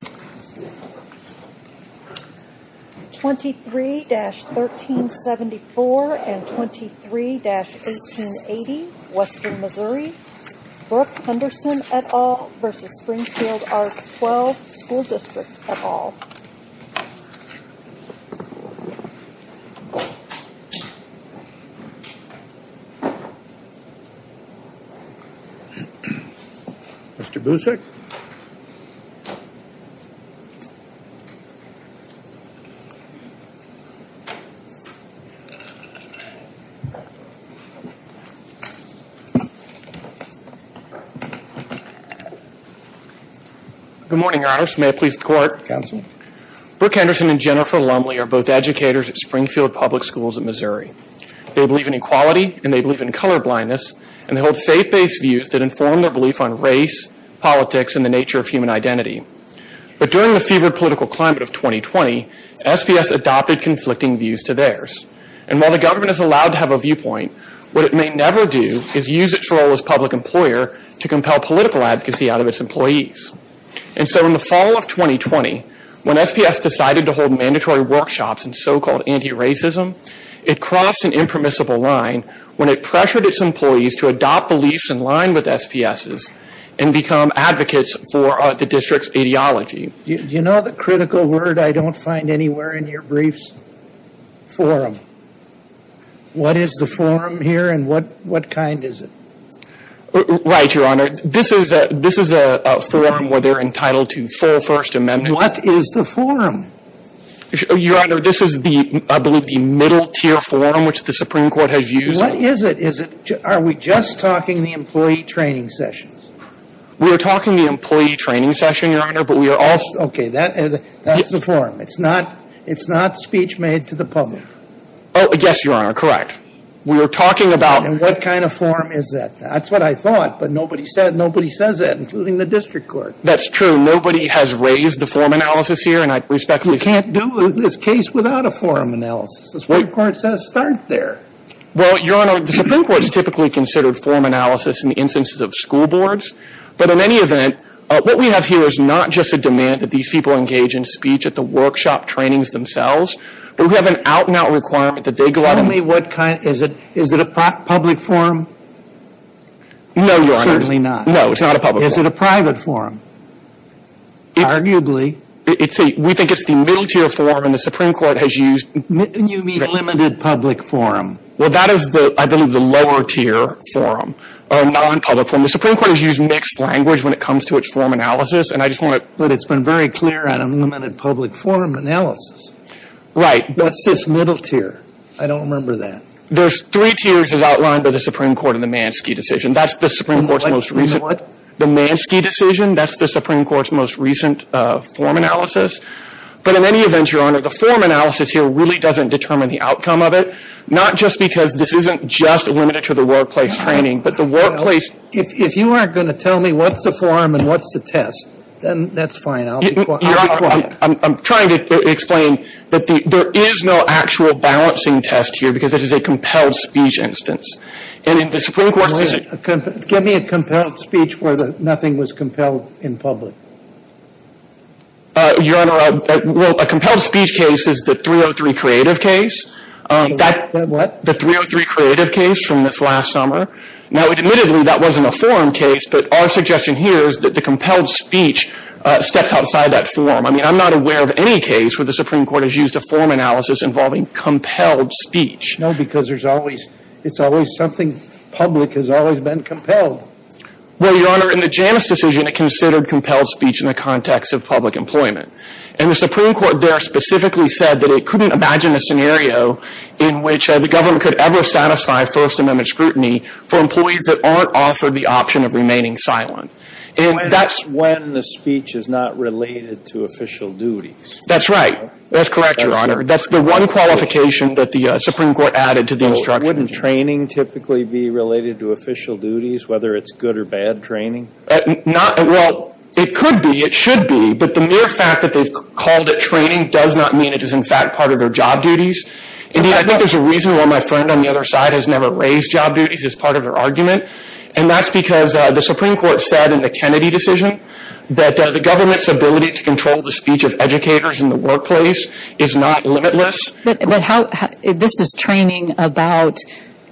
23-1374 and 23-1880, Western Missouri, Brooke Henderson et al. v. Springfield R-12 School District et al. Mr. Busick Good morning, Your Honors. May I please the Court? Counsel. Brooke Henderson and Jennifer Lumley are both educators at Springfield Public Schools in Missouri. They believe in equality and they believe in colorblindness, and they hold faith-based views that inform their belief on race, politics, and the nature of human identity. But during the fevered political climate of 2020, SPS adopted conflicting views to theirs. And while the government is allowed to have a viewpoint, what it may never do is use its role as public employer to compel political advocacy out of its employees. And so in the fall of 2020, when SPS decided to hold mandatory workshops in so-called anti-racism, it crossed an impermissible line when it pressured its employees to adopt beliefs in line with SPS's and become advocates for the district's ideology. Do you know the critical word I don't find anywhere in your briefs? Forum. What is the forum here and what kind is it? Right, Your Honor. This is a forum where they're entitled to full First Amendment. What is the forum? Your Honor, this is, I believe, the middle-tier forum which the Supreme Court has used. What is it? Are we just talking the employee training sessions? We are talking the employee training session, Your Honor, but we are also— Okay, that's the forum. It's not speech made to the public. Yes, Your Honor, correct. We are talking about— And what kind of forum is that? That's what I thought, but nobody says that, including the district court. That's true. Nobody has raised the forum analysis here, and I respectfully say— We can't do this case without a forum analysis. The Supreme Court says start there. Well, Your Honor, the Supreme Court has typically considered forum analysis in the instances of school boards, but in any event, what we have here is not just a demand that these people engage in speech at the workshop trainings themselves, but we have an out-and-out requirement that they go out and— Tell me what kind. Is it a public forum? No, Your Honor. Certainly not. No, it's not a public forum. Is it a private forum? Arguably. We think it's the middle-tier forum, and the Supreme Court has used— You mean limited public forum. Well, that is, I believe, the lower-tier forum, or non-public forum. The Supreme Court has used mixed language when it comes to its forum analysis, and I just want to— But it's been very clear on a limited public forum analysis. Right. What's this middle tier? I don't remember that. There's three tiers as outlined by the Supreme Court in the Manski decision. That's the Supreme Court's most recent— What? The Manski decision. That's the Supreme Court's most recent forum analysis. But in any event, Your Honor, the forum analysis here really doesn't determine the outcome of it, not just because this isn't just limited to the workplace training, but the workplace— Well, if you aren't going to tell me what's the forum and what's the test, then that's fine. I'll be quiet. Your Honor, I'm trying to explain that there is no actual balancing test here because it is a compelled speech instance. And in the Supreme Court's— Give me a compelled speech where nothing was compelled in public. Your Honor, a compelled speech case is the 303 Creative case. That— What? The 303 Creative case from this last summer. Now, admittedly, that wasn't a forum case, but our suggestion here is that the compelled speech steps outside that forum. I mean, I'm not aware of any case where the Supreme Court has used a forum analysis involving compelled speech. No, because there's always—it's always something public has always been compelled. Well, Your Honor, in the Janus decision, it considered compelled speech in the context of public employment. And the Supreme Court there specifically said that it couldn't imagine a scenario in which the government could ever satisfy First Amendment scrutiny for employees that aren't offered the option of remaining silent. And that's— When the speech is not related to official duties. That's right. That's correct, Your Honor. That's the one qualification that the Supreme Court added to the instruction. Wouldn't training typically be related to official duties, whether it's good or bad training? Not—well, it could be. It should be. But the mere fact that they've called it training does not mean it is, in fact, part of their job duties. Indeed, I think there's a reason why my friend on the other side has never raised job duties as part of her argument. And that's because the Supreme Court said in the Kennedy decision that the government's ability to control the speech of educators in the workplace is not limitless. But how—this is training about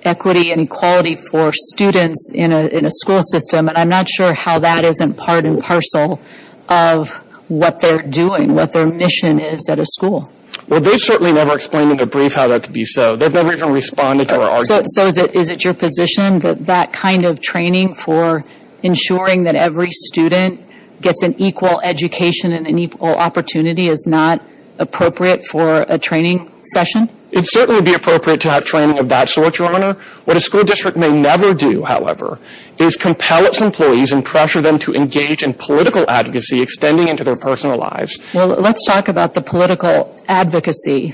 equity and equality for students in a school system. And I'm not sure how that isn't part and parcel of what they're doing, what their mission is at a school. Well, they certainly never explained in their brief how that could be so. They've never even responded to our arguments. So is it your position that that kind of training for ensuring that every student gets an equal education and an equal opportunity is not appropriate for a training session? It certainly would be appropriate to have training of that sort, Your Honor. What a school district may never do, however, is compel its employees and pressure them to engage in political advocacy extending into their personal lives. Well, let's talk about the political advocacy.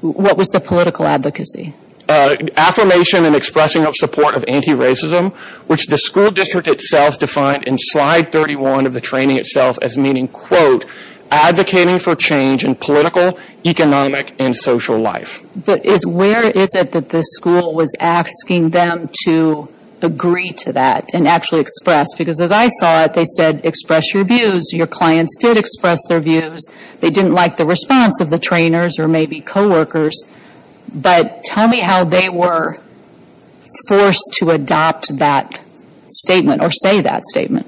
What was the political advocacy? Affirmation and expressing of support of anti-racism, which the school district itself defined in slide 31 of the training itself as meaning, quote, advocating for change in political, economic, and social life. But where is it that the school was asking them to agree to that and actually express? Because as I saw it, they said, express your views. Your clients did express their views. They didn't like the response of the trainers or maybe coworkers. But tell me how they were forced to adopt that statement or say that statement.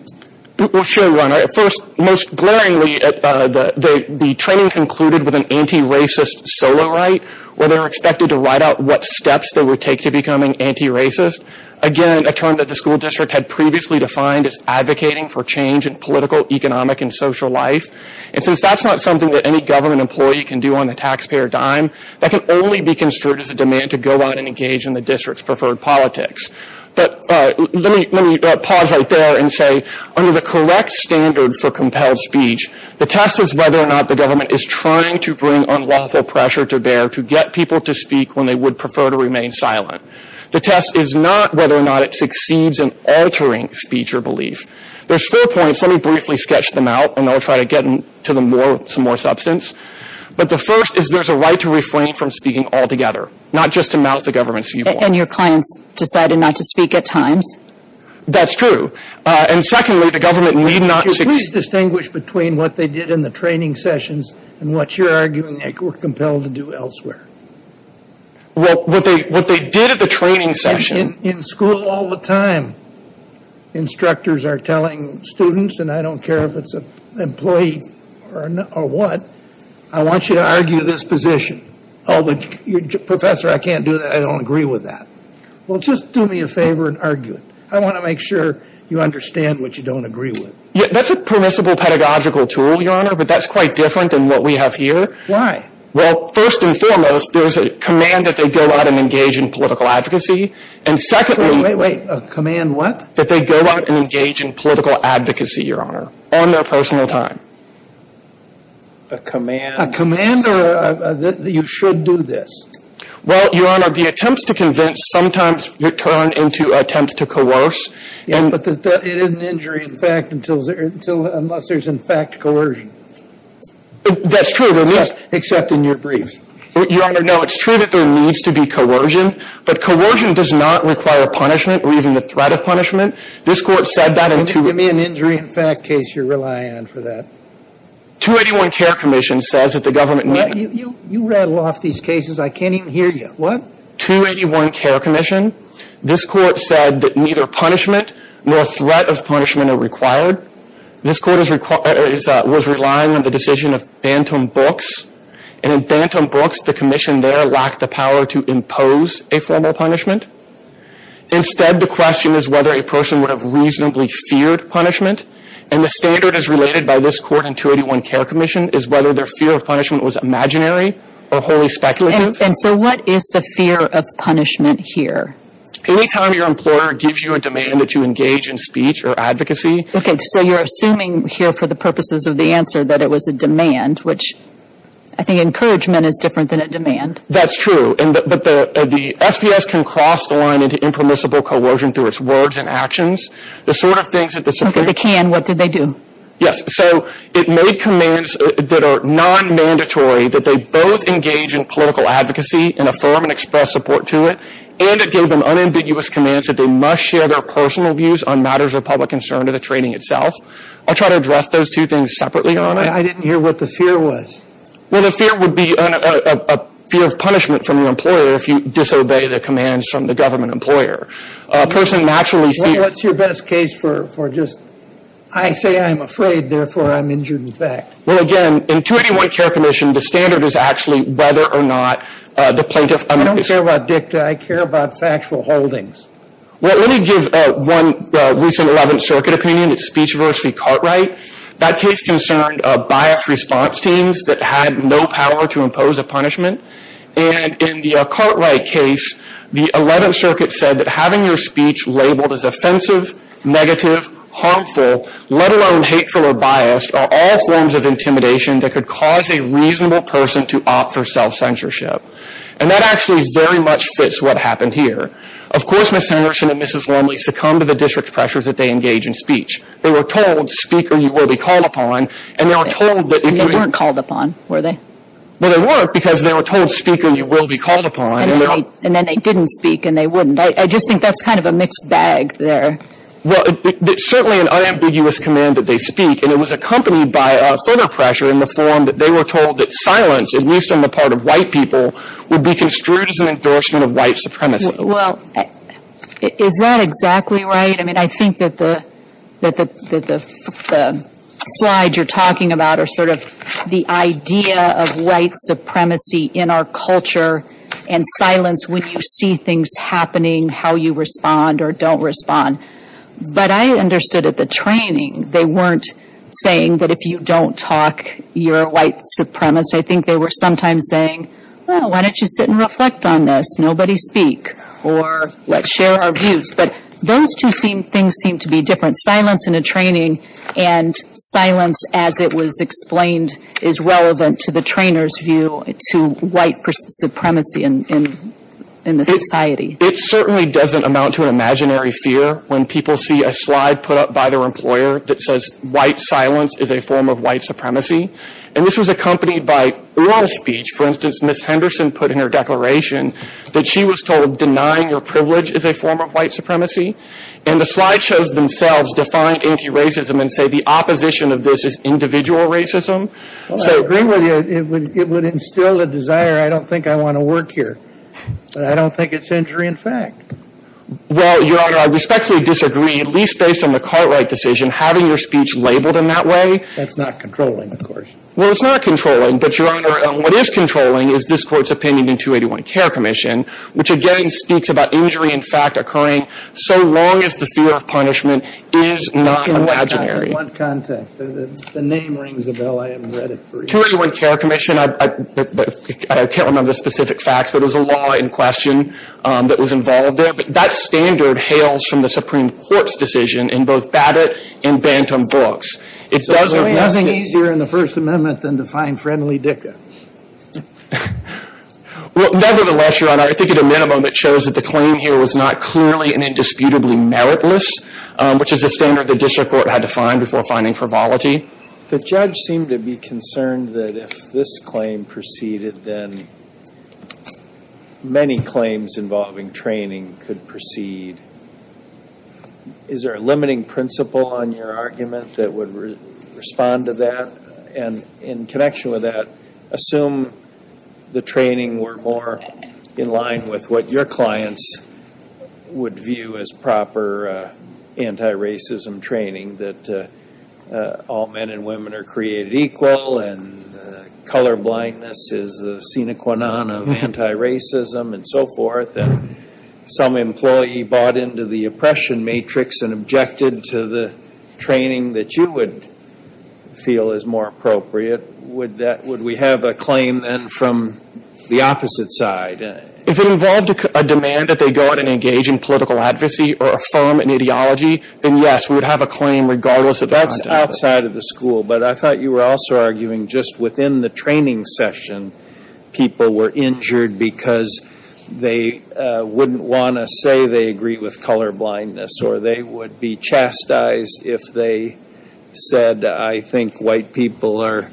Well, sure, Your Honor. First, most glaringly, the training concluded with an anti-racist solo right where they were expected to write out what steps they would take to becoming anti-racist. Again, a term that the school district had previously defined as advocating for change in political, economic, and social life. And since that's not something that any government employee can do on the taxpayer dime, that can only be construed as a demand to go out and engage in the district's preferred politics. But let me pause right there and say, under the correct standard for compelled speech, the test is whether or not the government is trying to bring unlawful pressure to bear to get people to speak when they would prefer to remain silent. The test is not whether or not it succeeds in altering speech or belief. There's four points. Let me briefly sketch them out, and I'll try to get to them more with some more substance. But the first is there's a right to refrain from speaking altogether, not just to mount the government's view. And your clients decided not to speak at times? That's true. And secondly, the government need not… Could you please distinguish between what they did in the training sessions and what you're arguing they were compelled to do elsewhere? Well, what they did at the training session… and I don't care if it's an employee or what. I want you to argue this position. Oh, but, Professor, I can't do that. I don't agree with that. Well, just do me a favor and argue it. I want to make sure you understand what you don't agree with. That's a permissible pedagogical tool, Your Honor, but that's quite different than what we have here. Why? Well, first and foremost, there's a command that they go out and engage in political advocacy. And secondly… Wait, wait, wait. A command what? That they go out and engage in political advocacy, Your Honor, on their personal time. A command… A command that you should do this. Well, Your Honor, the attempts to convince sometimes turn into attempts to coerce. Yes, but it isn't injury in fact unless there's in fact coercion. That's true. Except in your brief. Your Honor, no, it's true that there needs to be coercion, but coercion does not require punishment or even the threat of punishment. This Court said that in… Give me an injury in fact case you're relying on for that. 281 Care Commission says that the government… You rattle off these cases. I can't even hear you. What? 281 Care Commission. This Court said that neither punishment nor threat of punishment are required. This Court was relying on the decision of Bantam Books. And in Bantam Books, the commission there lacked the power to impose a formal punishment. Instead, the question is whether a person would have reasonably feared punishment. And the standard as related by this Court in 281 Care Commission is whether their fear of punishment was imaginary or wholly speculative. And so what is the fear of punishment here? Any time your employer gives you a demand that you engage in speech or advocacy… Okay, so you're assuming here for the purposes of the answer that it was a demand, which I think encouragement is different than a demand. That's true. But the SPS can cross the line into impermissible coercion through its words and actions. The sort of things that the… Okay, they can. What did they do? Yes, so it made commands that are non-mandatory, that they both engage in political advocacy in a form and express support to it, and it gave them unambiguous commands that they must share their personal views on matters of public concern to the training itself. I'll try to address those two things separately. I didn't hear what the fear was. Well, the fear would be a fear of punishment from your employer if you disobey the commands from the government employer. A person naturally… What's your best case for just I say I'm afraid, therefore I'm injured in fact? Well, again, in 281 Care Commission, the standard is actually whether or not the plaintiff… I don't care about dicta. I care about factual holdings. Well, let me give one recent 11th Circuit opinion. It's Speech Adversity Cartwright. That case concerned biased response teams that had no power to impose a punishment. And in the Cartwright case, the 11th Circuit said that having your speech labeled as offensive, negative, harmful, let alone hateful or biased, are all forms of intimidation that could cause a reasonable person to opt for self-censorship. And that actually very much fits what happened here. Of course, Ms. Henderson and Mrs. Longley succumbed to the district pressures that they engage in speech. They were told, speaker, you will be called upon. And they were told that… They weren't called upon, were they? Well, they weren't because they were told, speaker, you will be called upon. And then they didn't speak and they wouldn't. I just think that's kind of a mixed bag there. Well, it's certainly an unambiguous command that they speak. And it was accompanied by further pressure in the form that they were told that silence, at least on the part of white people, would be construed as an endorsement of white supremacy. Well, is that exactly right? I mean, I think that the slides you're talking about are sort of the idea of white supremacy in our culture and silence when you see things happening, how you respond or don't respond. But I understood at the training they weren't saying that if you don't talk, you're a white supremacist. I think they were sometimes saying, well, why don't you sit and reflect on this? Nobody speak. Or let's share our views. But those two things seem to be different. Silence in a training and silence as it was explained is relevant to the trainer's view to white supremacy in the society. It certainly doesn't amount to an imaginary fear when people see a slide put up by their employer that says white silence is a form of white supremacy. And this was accompanied by oral speech. For instance, Ms. Henderson put in her declaration that she was told denying your privilege is a form of white supremacy. And the slide shows themselves defying anti-racism and say the opposition of this is individual racism. Well, I agree with you. It would instill a desire, I don't think I want to work here. I don't think it's injury in fact. Well, Your Honor, I respectfully disagree, at least based on the Cartwright decision, having your speech labeled in that way. That's not controlling, of course. Well, it's not controlling. But, Your Honor, what is controlling is this Court's opinion in 281 Care Commission, which again speaks about injury in fact occurring so long as the fear of punishment is not imaginary. In what context? The name rings a bell. I haven't read it for years. 281 Care Commission, I can't remember the specific facts, but it was a law in question that was involved there. But that standard hails from the Supreme Court's decision in both Babbitt and Bantam books. There is nothing easier in the First Amendment than to find friendly dickens. Well, nevertheless, Your Honor, I think at a minimum it shows that the claim here was not clearly and indisputably meritless, which is a standard the district court had to find before finding frivolity. The judge seemed to be concerned that if this claim proceeded, then many claims involving training could proceed. Is there a limiting principle on your argument that would respond to that? And in connection with that, assume the training were more in line with what your clients would view as proper anti-racism training, that all men and women are created equal and colorblindness is the sine qua non of anti-racism and so forth, that some employee bought into the oppression matrix and objected to the training that you would feel is more appropriate, would we have a claim then from the opposite side? If it involved a demand that they go out and engage in political advocacy or affirm an ideology, then yes, we would have a claim regardless of the content. That's outside of the school. But I thought you were also arguing just within the training session, people were injured because they wouldn't want to say they agree with colorblindness or they would be chastised if they said I think white people are,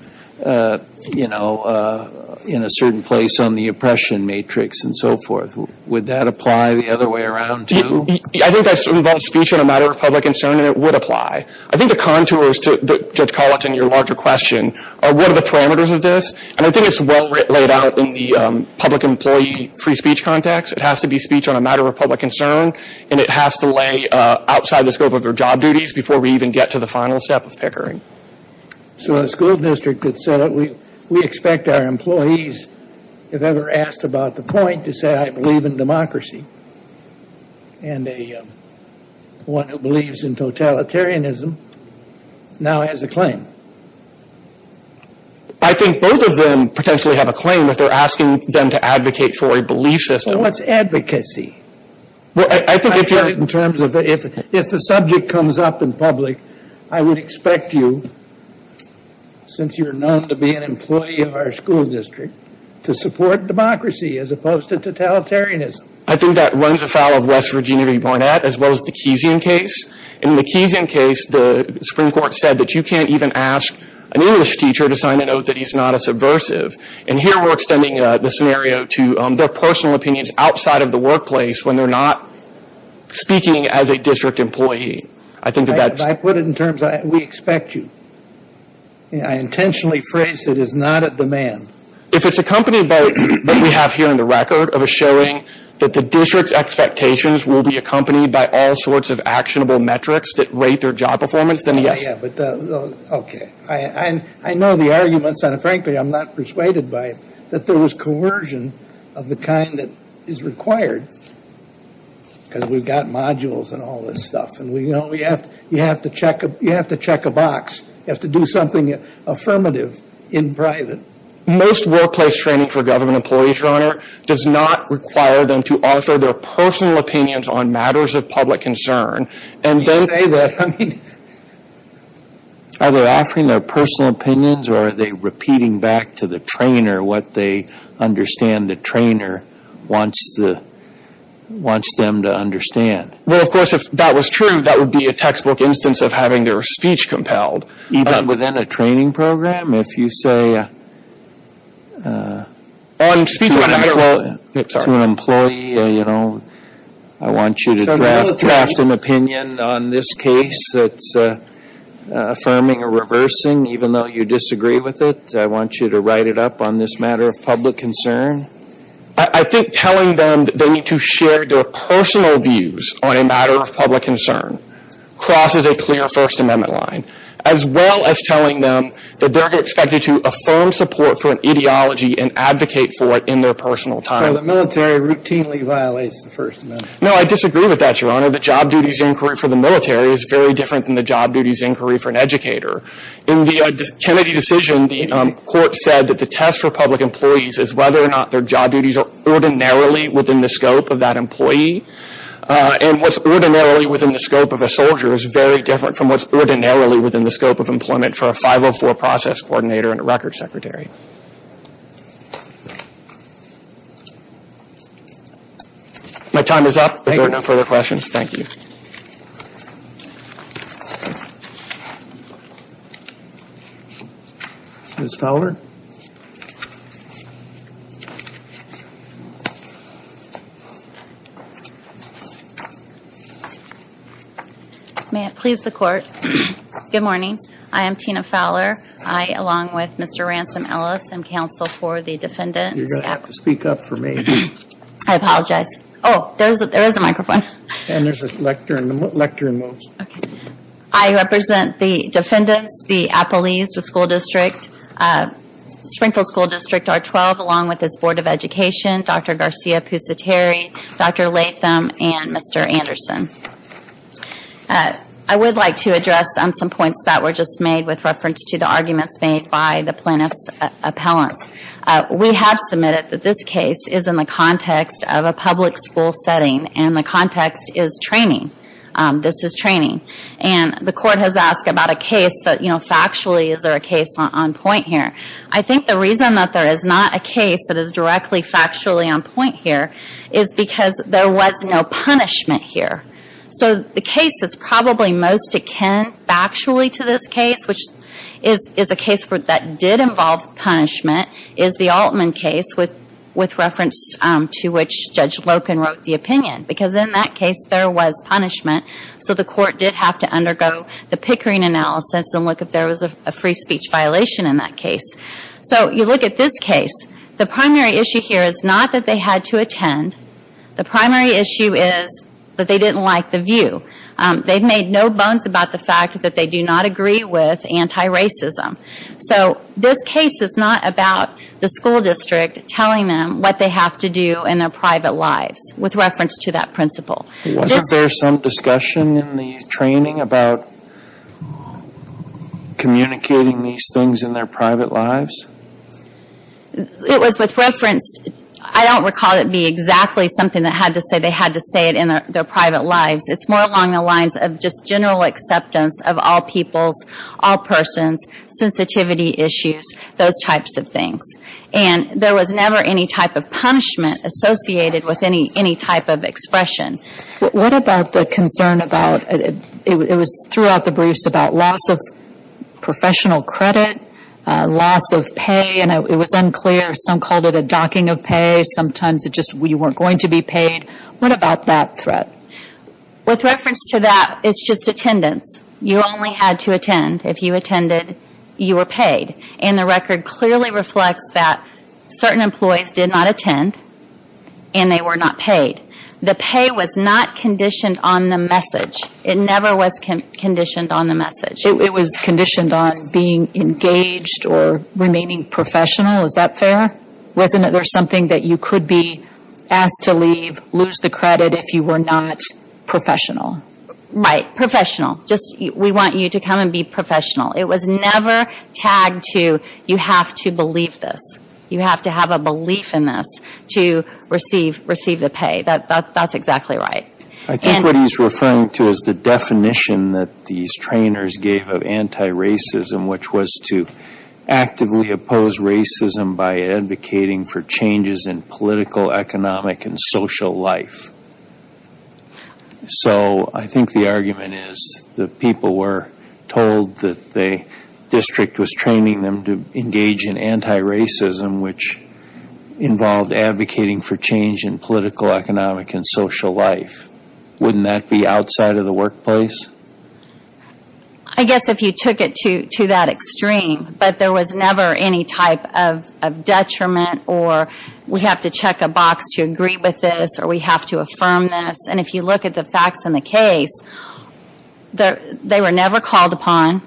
you know, in a certain place on the oppression matrix and so forth. Would that apply the other way around, too? I think that involves speech on a matter of public concern, and it would apply. I think the contours to, Judge Colleton, your larger question, are what are the parameters of this? And I think it's well laid out in the public employee free speech context. It has to be speech on a matter of public concern, and it has to lay outside the scope of their job duties before we even get to the final step of pickering. So a school district could set up, we expect our employees, if ever asked about the point, to say I believe in democracy, and one who believes in totalitarianism now has a claim. I think both of them potentially have a claim if they're asking them to advocate for a belief system. Well, what's advocacy? Well, I think if you're – If the subject comes up in public, I would expect you, since you're known to be an employee of our school district, to support democracy as opposed to totalitarianism. I think that runs afoul of West Virginia v. Barnett as well as the Keesian case. In the Keesian case, the Supreme Court said that you can't even ask an English teacher to sign a note that he's not a subversive. And here we're extending the scenario to their personal opinions outside of the workplace when they're not speaking as a district employee. I think that that's – If I put it in terms, we expect you. I intentionally phrased it as not at demand. If it's accompanied by what we have here in the record of a showing that the district's expectations will be accompanied by all sorts of actionable metrics that rate their job performance, then yes. Yeah, but – okay. I know the arguments, and frankly, I'm not persuaded by it, that there was coercion of the kind that is required because we've got modules and all this stuff. You have to check a box. You have to do something affirmative in private. Most workplace training for government employees, Your Honor, does not require them to offer their personal opinions on matters of public concern. You can say that. Are they offering their personal opinions, or are they repeating back to the trainer what they understand the trainer wants them to understand? Well, of course, if that was true, that would be a textbook instance of having their speech compelled. Even within a training program, if you say to an employee, you know, I want you to draft an opinion on this case that's affirming or reversing, even though you disagree with it, I want you to write it up on this matter of public concern. I think telling them that they need to share their personal views on a matter of public concern crosses a clear First Amendment line, as well as telling them that they're expected to affirm support for an ideology and advocate for it in their personal time. So the military routinely violates the First Amendment. No, I disagree with that, Your Honor. The job duties inquiry for the military is very different than the job duties inquiry for an educator. In the Kennedy decision, the court said that the test for public employees is whether or not their job duties are ordinarily within the scope of that employee, and what's ordinarily within the scope of a soldier is very different from what's ordinarily within the scope of employment for a 504 process coordinator and a record secretary. My time is up. If there are no further questions, thank you. Ms. Fowler? May it please the Court, good morning. I am Tina Fowler. I, along with Mr. Ransom Ellis, am counsel for the defendants. You're going to have to speak up for me. I apologize. Oh, there is a microphone. And there is a lectern. The lectern moves. Okay. I represent the defendants, the appellees, the school district, Sprinkle School District R-12, along with its Board of Education, Dr. Garcia Pusateri, Dr. Latham, and Mr. Anderson. I would like to address some points that were just made with reference to the arguments made by the plaintiff's appellants. We have submitted that this case is in the context of a public school setting and the context is training. This is training. And the Court has asked about a case that, you know, factually, is there a case on point here? I think the reason that there is not a case that is directly factually on point here is because there was no punishment here. So the case that's probably most akin factually to this case, which is a case that did involve punishment, is the Altman case with reference to which Judge Loken wrote the opinion because in that case there was punishment. So the Court did have to undergo the Pickering analysis and look if there was a free speech violation in that case. So you look at this case. The primary issue here is not that they had to attend. The primary issue is that they didn't like the view. They made no bones about the fact that they do not agree with anti-racism. So this case is not about the school district telling them what they have to do in their private lives with reference to that principle. Wasn't there some discussion in the training about communicating these things in their private lives? It was with reference. I don't recall it being exactly something that had to say they had to say it in their private lives. It's more along the lines of just general acceptance of all peoples, all persons, sensitivity issues, those types of things. And there was never any type of punishment associated with any type of expression. What about the concern about, it was throughout the briefs, about loss of professional credit, loss of pay, and it was unclear. Some called it a docking of pay. Sometimes it just, you weren't going to be paid. What about that threat? With reference to that, it's just attendance. You only had to attend. If you attended, you were paid. And the record clearly reflects that certain employees did not attend and they were not paid. The pay was not conditioned on the message. It never was conditioned on the message. It was conditioned on being engaged or remaining professional. Is that fair? Wasn't there something that you could be asked to leave, lose the credit if you were not professional? Right, professional. We want you to come and be professional. It was never tagged to, you have to believe this. You have to have a belief in this to receive the pay. That's exactly right. I think what he's referring to is the definition that these trainers gave of anti-racism, which was to actively oppose racism by advocating for changes in political, economic, and social life. So I think the argument is that people were told that the district was training them to engage in anti-racism, which involved advocating for change in political, economic, and social life. Wouldn't that be outside of the workplace? I guess if you took it to that extreme. But there was never any type of detriment or we have to check a box to agree with this or we have to affirm this. And if you look at the facts in the case, they were never called upon.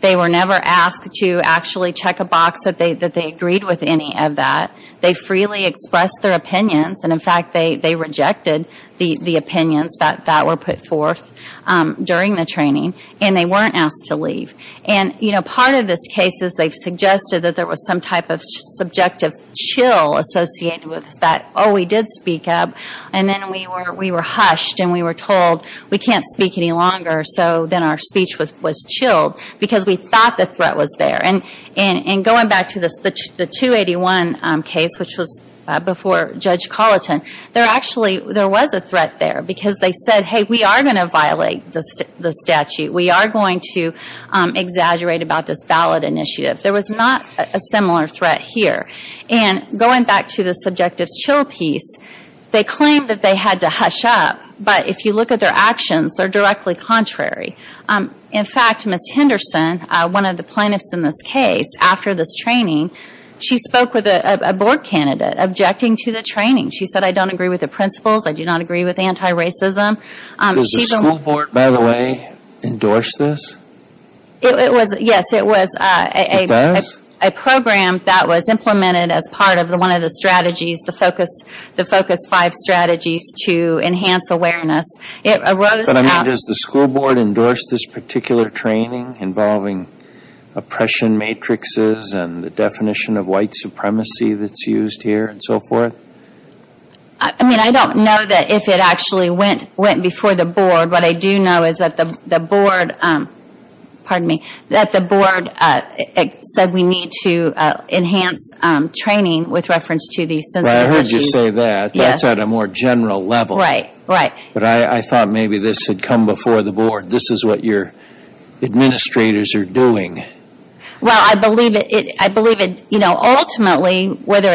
They were never asked to actually check a box that they agreed with any of that. They freely expressed their opinions. And, in fact, they rejected the opinions that were put forth during the training. And they weren't asked to leave. And part of this case is they've suggested that there was some type of subjective chill associated with that, oh, we did speak up. And then we were hushed and we were told we can't speak any longer. So then our speech was chilled because we thought the threat was there. And going back to the 281 case, which was before Judge Colleton, there actually was a threat there because they said, hey, we are going to violate the statute. We are going to exaggerate about this ballot initiative. There was not a similar threat here. And going back to the subjective chill piece, they claimed that they had to hush up. But if you look at their actions, they're directly contrary. In fact, Ms. Henderson, one of the plaintiffs in this case, after this training, she spoke with a board candidate objecting to the training. She said, I don't agree with the principles. I do not agree with anti-racism. Does the school board, by the way, endorse this? Yes, it was a program that was implemented as part of one of the strategies, the Focus Five strategies to enhance awareness. But, I mean, does the school board endorse this particular training involving oppression matrices and the definition of white supremacy that's used here and so forth? I mean, I don't know that if it actually went before the board. What I do know is that the board said we need to enhance training with reference to these sensitive issues. Well, I heard you say that. That's at a more general level. Right, right. But I thought maybe this had come before the board. This is what your administrators are doing. Well, I believe it. Ultimately, whether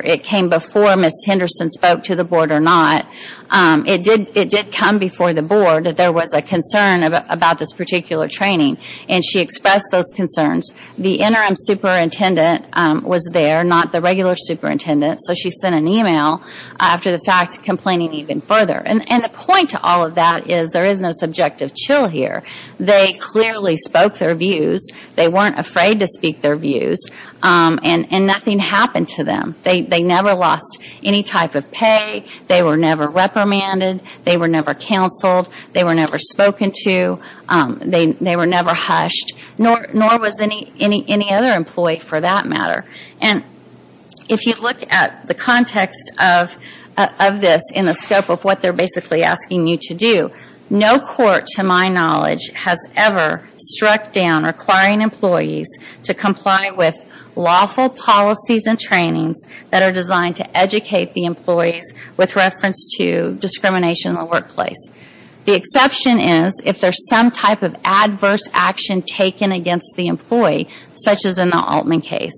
it came before Ms. Henderson spoke to the board or not, it did come before the board that there was a concern about this particular training. And she expressed those concerns. The interim superintendent was there, not the regular superintendent. So she sent an email after the fact, complaining even further. And the point to all of that is there is no subjective chill here. They clearly spoke their views. They weren't afraid to speak their views. And nothing happened to them. They never lost any type of pay. They were never reprimanded. They were never counseled. They were never spoken to. They were never hushed. Nor was any other employee, for that matter. And if you look at the context of this in the scope of what they're basically asking you to do, no court, to my knowledge, has ever struck down requiring employees to comply with lawful policies and trainings that are designed to educate the employees with reference to discrimination in the workplace. The exception is if there's some type of adverse action taken against the employee, such as in the Altman case.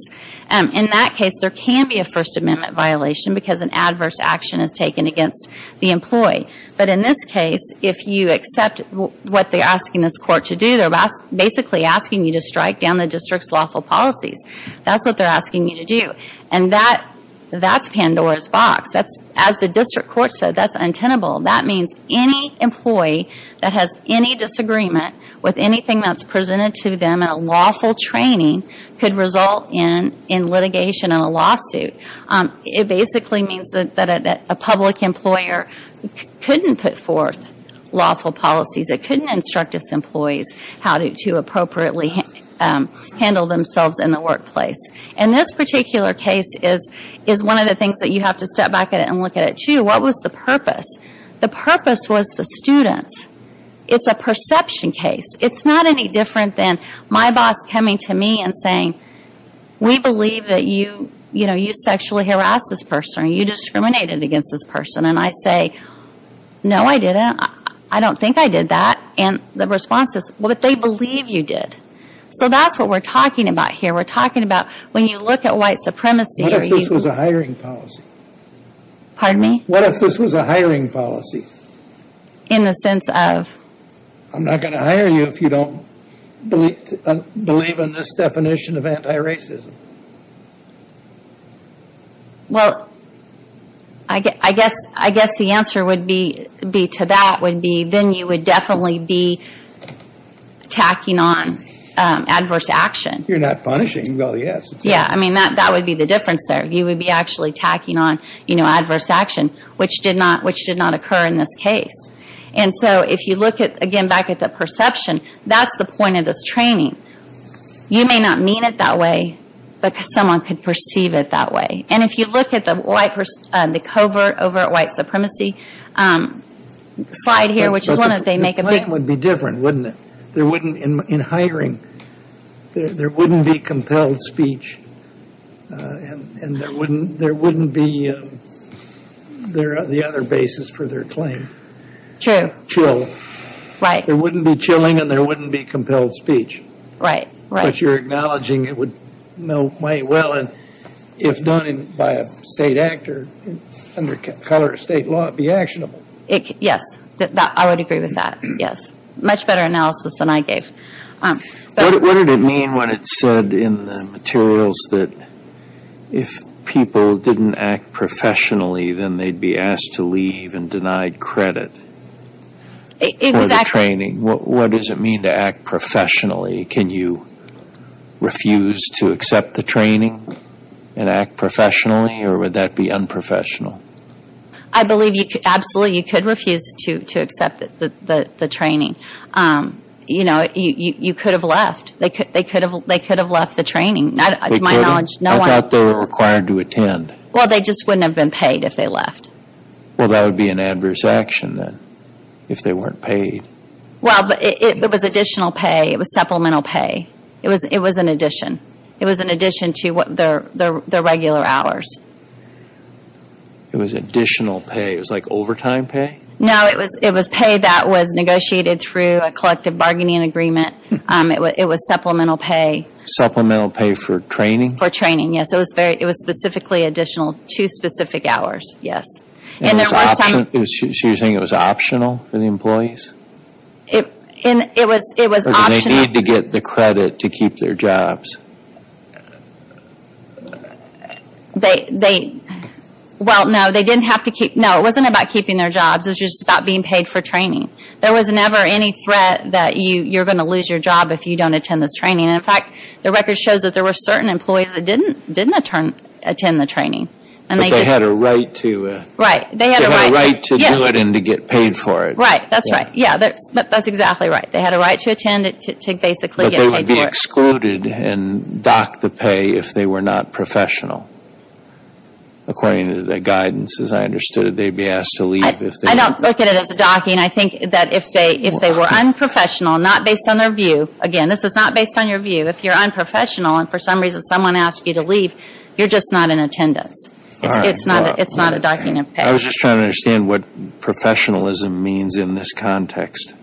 In that case, there can be a First Amendment violation because an adverse action is taken against the employee. But in this case, if you accept what they're asking this court to do, they're basically asking you to strike down the district's lawful policies. That's what they're asking you to do. And that's Pandora's box. As the district court said, that's untenable. That means any employee that has any disagreement with anything that's presented to them in a lawful training could result in litigation and a lawsuit. It basically means that a public employer couldn't put forth lawful policies. It couldn't instruct its employees how to appropriately handle themselves in the workplace. And this particular case is one of the things that you have to step back and look at it, too. What was the purpose? The purpose was the students. It's a perception case. It's not any different than my boss coming to me and saying, we believe that you sexually harassed this person or you discriminated against this person. And I say, no, I didn't. I don't think I did that. And the response is, well, but they believe you did. So that's what we're talking about here. We're talking about when you look at white supremacy. What if this was a hiring policy? Pardon me? What if this was a hiring policy? In the sense of? I'm not going to hire you if you don't believe in this definition of anti-racism. Well, I guess the answer would be to that would be, then you would definitely be tacking on adverse action. You're not punishing. Well, yes. Yeah, I mean, that would be the difference there. You would be actually tacking on adverse action, which did not occur in this case. And so if you look at, again, back at the perception, that's the point of this training. You may not mean it that way, but someone could perceive it that way. And if you look at the covert over white supremacy slide here, which is one that they make a big. But the claim would be different, wouldn't it? In hiring, there wouldn't be compelled speech. And there wouldn't be the other basis for their claim. True. Chill. Right. There wouldn't be chilling and there wouldn't be compelled speech. Right, right. But you're acknowledging it would know quite well. And if done by a state actor under color of state law, it would be actionable. Yes, I would agree with that, yes. Much better analysis than I gave. What did it mean when it said in the materials that if people didn't act professionally, then they'd be asked to leave and denied credit for the training? What does it mean to act professionally? Can you refuse to accept the training and act professionally? Or would that be unprofessional? I believe absolutely you could refuse to accept the training. You know, you could have left. They could have left the training. To my knowledge, no one. I thought they were required to attend. Well, they just wouldn't have been paid if they left. Well, that would be an adverse action then if they weren't paid. Well, it was additional pay. It was supplemental pay. It was an addition. It was an addition to their regular hours. It was additional pay. It was like overtime pay? No, it was pay that was negotiated through a collective bargaining agreement. It was supplemental pay. Supplemental pay for training? For training, yes. It was specifically additional to specific hours, yes. So you're saying it was optional for the employees? It was optional. Or did they need to get the credit to keep their jobs? Well, no. It wasn't about keeping their jobs. It was just about being paid for training. There was never any threat that you're going to lose your job if you don't attend this training. And, in fact, the record shows that there were certain employees that didn't attend the training. But they had a right to do it and to get paid for it. Right, that's right. Yeah, that's exactly right. They had a right to attend it to basically get paid for it. But they would be excluded and docked the pay if they were not professional. According to the guidance, as I understood it, they would be asked to leave. I don't look at it as a docking. I think that if they were unprofessional, not based on their view, again, this is not based on your view, if you're unprofessional and, for some reason, someone asks you to leave, you're just not in attendance. It's not a docking of pay. I was just trying to understand what professionalism means in this context.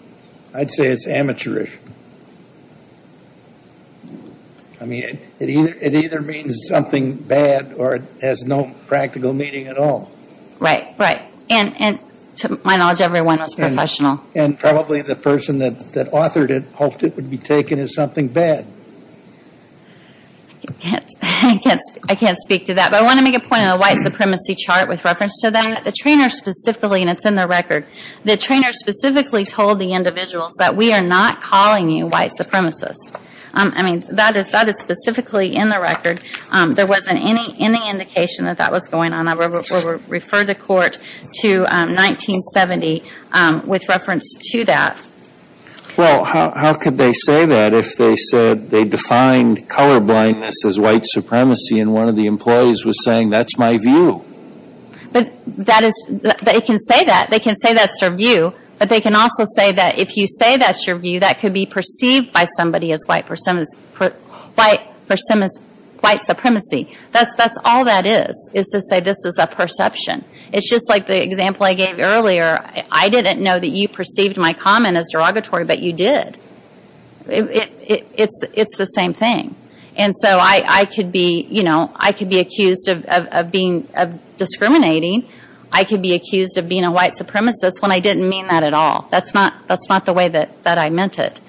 I'd say it's amateurish. I mean, it either means something bad or it has no practical meaning at all. Right, right. And, to my knowledge, everyone was professional. And probably the person that authored it hoped it would be taken as something bad. I can't speak to that. But I want to make a point on the white supremacy chart with reference to that. The trainer specifically, and it's in the record, the trainer specifically told the individuals that we are not calling you white supremacists. I mean, that is specifically in the record. There wasn't any indication that that was going on. Refer to court to 1970 with reference to that. Well, how could they say that if they said they defined colorblindness as white supremacy and one of the employees was saying, that's my view? They can say that. They can say that's their view, but they can also say that if you say that's your view, that could be perceived by somebody as white supremacy. That's all that is, is to say this is a perception. It's just like the example I gave earlier. I didn't know that you perceived my comment as derogatory, but you did. It's the same thing. And so I could be accused of discriminating. I could be accused of being a white supremacist when I didn't mean that at all. That's not the way that I meant it.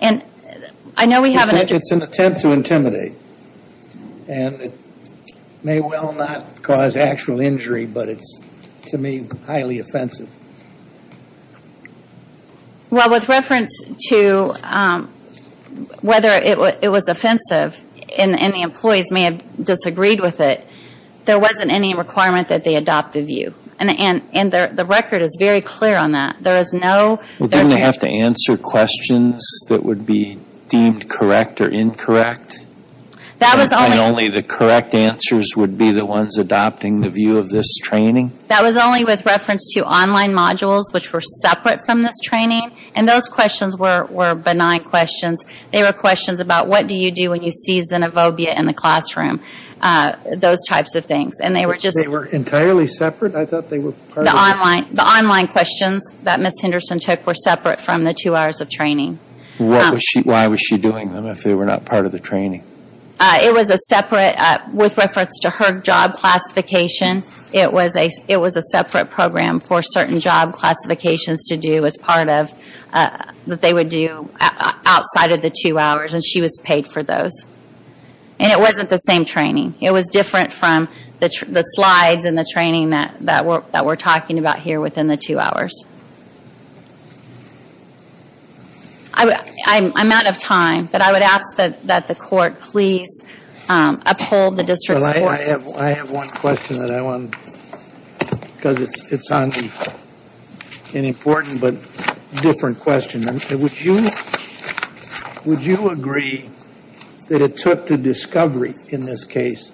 It's an attempt to intimidate. And it may well not cause actual injury, but it's, to me, highly offensive. Well, with reference to whether it was offensive and the employees may have disagreed with it, there wasn't any requirement that they adopt the view. And the record is very clear on that. Didn't they have to answer questions that would be deemed correct or incorrect? And only the correct answers would be the ones adopting the view of this training? That was only with reference to online modules, which were separate from this training. And those questions were benign questions. They were questions about what do you do when you see xenophobia in the classroom, those types of things. They were entirely separate? The online questions that Ms. Henderson took were separate from the two hours of training. Why was she doing them if they were not part of the training? It was a separate, with reference to her job classification, it was a separate program for certain job classifications to do as part of, that they would do outside of the two hours, and she was paid for those. And it wasn't the same training. It was different from the slides and the training that we're talking about here within the two hours. I'm out of time, but I would ask that the court please uphold the district's courts. I have one question that I want to, because it's an important but different question. Would you agree that it took the discovery in this case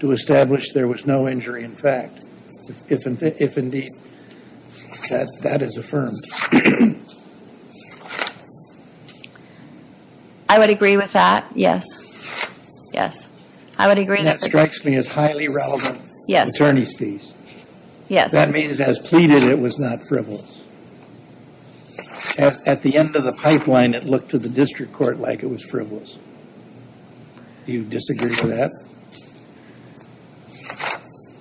to establish there was no injury in fact, if indeed that is affirmed? I would agree with that, yes. That strikes me as highly relevant, attorney's fees. That means as pleaded, it was not frivolous. At the end of the pipeline, it looked to the district court like it was frivolous. Do you disagree with that?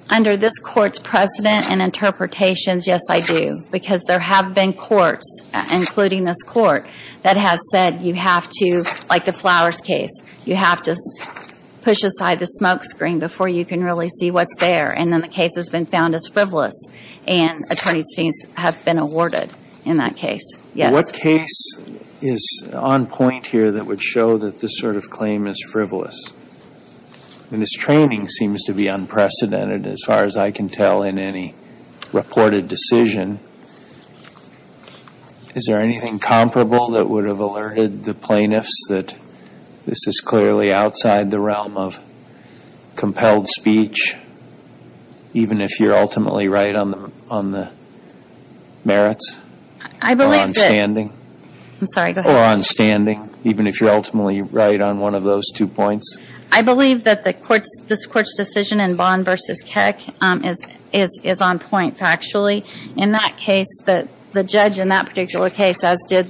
Under this court's precedent and interpretations, yes I do. Because there have been courts, including this court, that has said you have to, like the Flowers case, you have to push aside the smoke screen before you can really see what's there. And then the case has been found as frivolous, and attorney's fees have been awarded in that case, yes. What case is on point here that would show that this sort of claim is frivolous? I mean, this training seems to be unprecedented as far as I can tell in any reported decision. Is there anything comparable that would have alerted the plaintiffs that this is clearly outside the realm of even if you're ultimately right on the merits? Or on standing? I'm sorry, go ahead. Or on standing, even if you're ultimately right on one of those two points? I believe that this court's decision in Bond v. Keck is on point, factually. In that case, the judge in that particular case, as did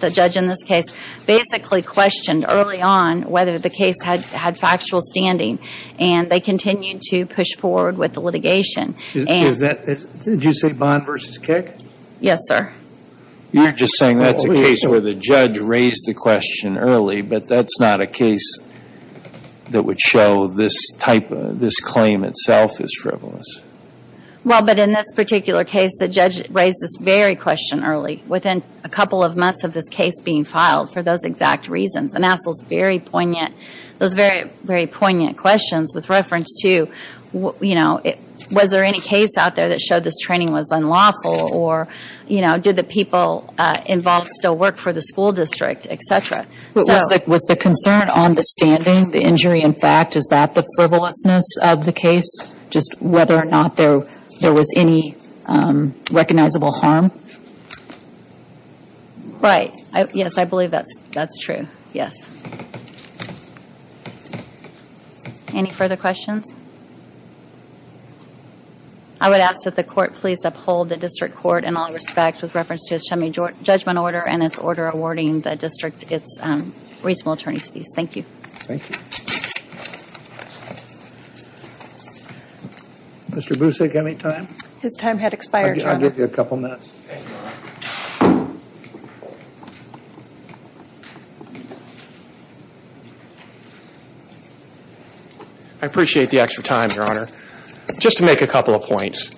the judge in this case, basically questioned early on whether the case had factual standing. And they continued to push forward with the litigation. Did you say Bond v. Keck? Yes, sir. You're just saying that's a case where the judge raised the question early, but that's not a case that would show this claim itself is frivolous. Well, but in this particular case, the judge raised this very question early, within a couple of months of this case being filed, for those exact reasons. And asked those very poignant questions with reference to, was there any case out there that showed this training was unlawful? Or did the people involved still work for the school district, et cetera? Was the concern on the standing, the injury in fact, is that the frivolousness of the case? Just whether or not there was any recognizable harm? Right. Yes, I believe that's true. Yes. Any further questions? I would ask that the court please uphold the district court in all respect, with reference to its shunning judgment order and its order awarding the district its reasonable attorneys fees. Thank you. Thank you. Mr. Busick, any time? His time had expired. I'll give you a couple minutes. Thank you, Your Honor. I appreciate the extra time, Your Honor. Just to make a couple of points.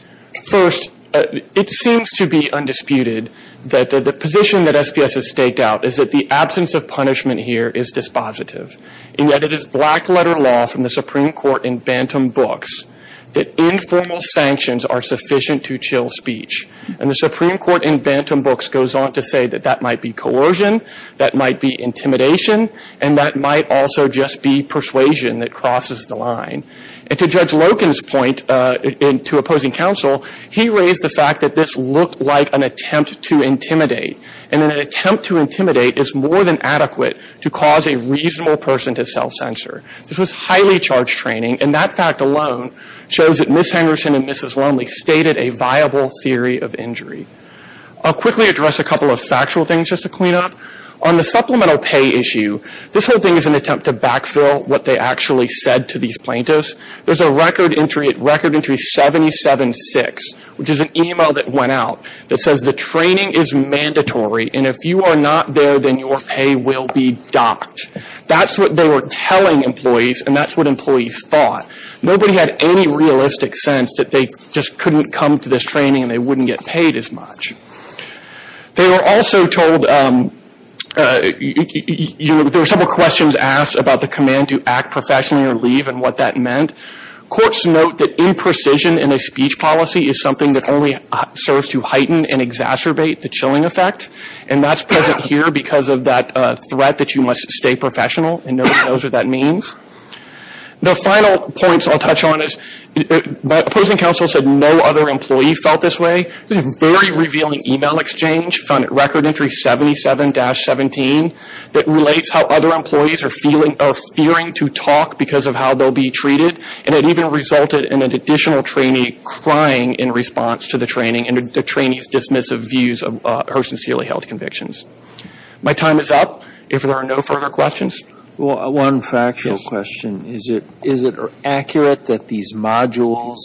First, it seems to be undisputed that the position that SPS has staked out is that the absence of punishment here is dispositive. And yet it is black letter law from the Supreme Court in Bantam Books that informal sanctions are sufficient to chill speech. And the Supreme Court in Bantam Books goes on to say that that might be coercion, that might be intimidation, and that might also just be persuasion that crosses the line. And to Judge Loken's point to opposing counsel, he raised the fact that this looked like an attempt to intimidate. And an attempt to intimidate is more than adequate to cause a reasonable person to self-censor. This was highly charged training, and that fact alone shows that Ms. Henderson and Mrs. Lonely have stated a viable theory of injury. I'll quickly address a couple of factual things just to clean up. On the supplemental pay issue, this whole thing is an attempt to backfill what they actually said to these plaintiffs. There's a record entry at Record Entry 776, which is an email that went out that says the training is mandatory, and if you are not there, then your pay will be docked. That's what they were telling employees, and that's what employees thought. Nobody had any realistic sense that they just couldn't come to this training and they wouldn't get paid as much. They were also told there were several questions asked about the command to act professionally or leave and what that meant. Courts note that imprecision in a speech policy is something that only serves to heighten and exacerbate the chilling effect, and that's present here because of that threat that you must stay professional, and nobody knows what that means. The final points I'll touch on is, my opposing counsel said no other employee felt this way. This is a very revealing email exchange found at Record Entry 77-17 that relates how other employees are fearing to talk because of how they'll be treated, and it even resulted in an additional trainee crying in response to the training and the trainee's dismissive views of her sincerely held convictions. My time is up. If there are no further questions. One factual question. Is it accurate that these modules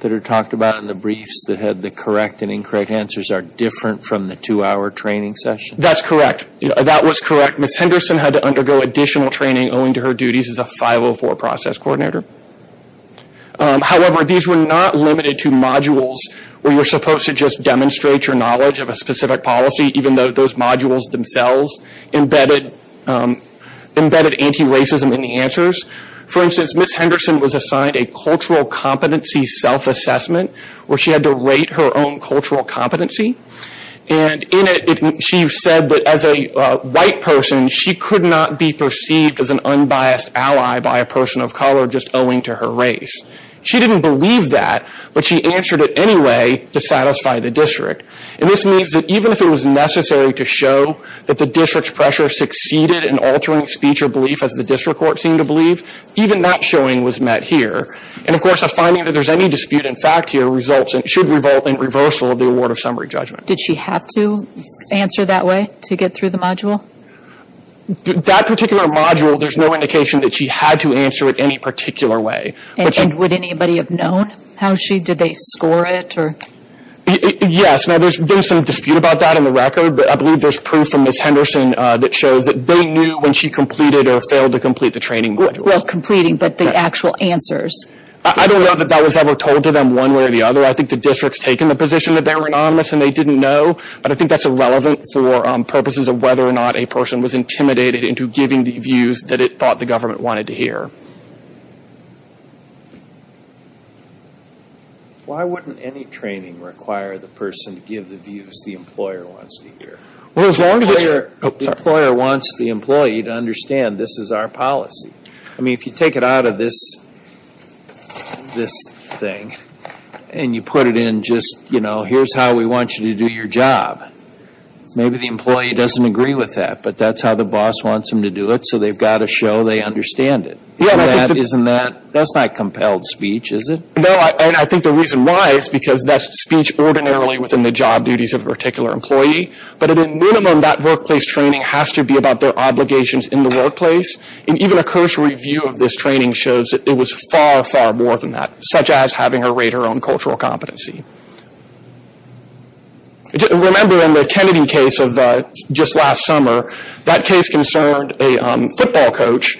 that are talked about in the briefs that had the correct and incorrect answers are different from the two-hour training session? That's correct. That was correct. Ms. Henderson had to undergo additional training owing to her duties as a 504 process coordinator. However, these were not limited to modules where you're supposed to just demonstrate your knowledge of a specific policy, even though those modules themselves embedded anti-racism in the answers. For instance, Ms. Henderson was assigned a cultural competency self-assessment where she had to rate her own cultural competency. And in it, she said that as a white person, she could not be perceived as an unbiased ally by a person of color just owing to her race. She didn't believe that, but she answered it anyway to satisfy the district. And this means that even if it was necessary to show that the district's pressure succeeded in altering speech or belief as the district court seemed to believe, even that showing was met here. And of course, a finding that there's any dispute in fact here should revolt in reversal of the award of summary judgment. Did she have to answer that way to get through the module? That particular module, there's no indication that she had to answer it any particular way. And would anybody have known how she, did they score it? Yes, now there's some dispute about that in the record, but I believe there's proof from Ms. Henderson that shows that they knew when she completed or failed to complete the training module. Well, completing, but the actual answers. I don't know that that was ever told to them one way or the other. I think the district's taken the position that they were anonymous and they didn't know. But I think that's irrelevant for purposes of whether or not a person was intimidated into giving the views that it thought the government wanted to hear. Why wouldn't any training require the person to give the views the employer wants to hear? The employer wants the employee to understand this is our policy. I mean, if you take it out of this thing and you put it in just, you know, here's how we want you to do your job, maybe the employee doesn't agree with that, but that's how the boss wants them to do it, so they've got to show they understand it. Isn't that, that's not compelled speech, is it? No, and I think the reason why is because that's speech ordinarily within the job duties of a particular employee, but at a minimum that workplace training has to be about their obligations in the workplace, and even a cursory view of this training shows it was far, far more than that, such as having her rate her own cultural competency. Remember in the Kennedy case of just last summer, that case concerned a football coach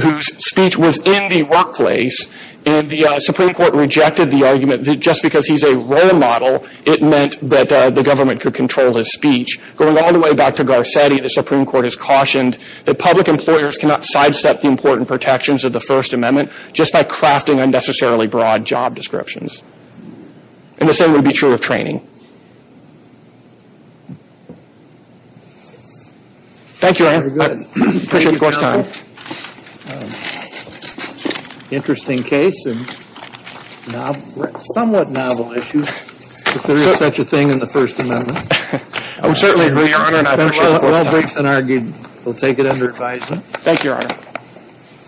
whose speech was in the workplace, and the Supreme Court rejected the argument that just because he's a role model, it meant that the government could control his speech. Going all the way back to Garcetti, the Supreme Court has cautioned that public employers cannot sidestep the important protections of the First Amendment just by crafting unnecessarily broad job descriptions, and the same would be true of training. Thank you, Your Honor. Appreciate the court's time. Interesting case, and somewhat novel issue, if there is such a thing in the First Amendment. I would certainly agree, Your Honor, and I appreciate the court's time. Well briefed and argued, we'll take it under advisement. Thank you, Your Honor.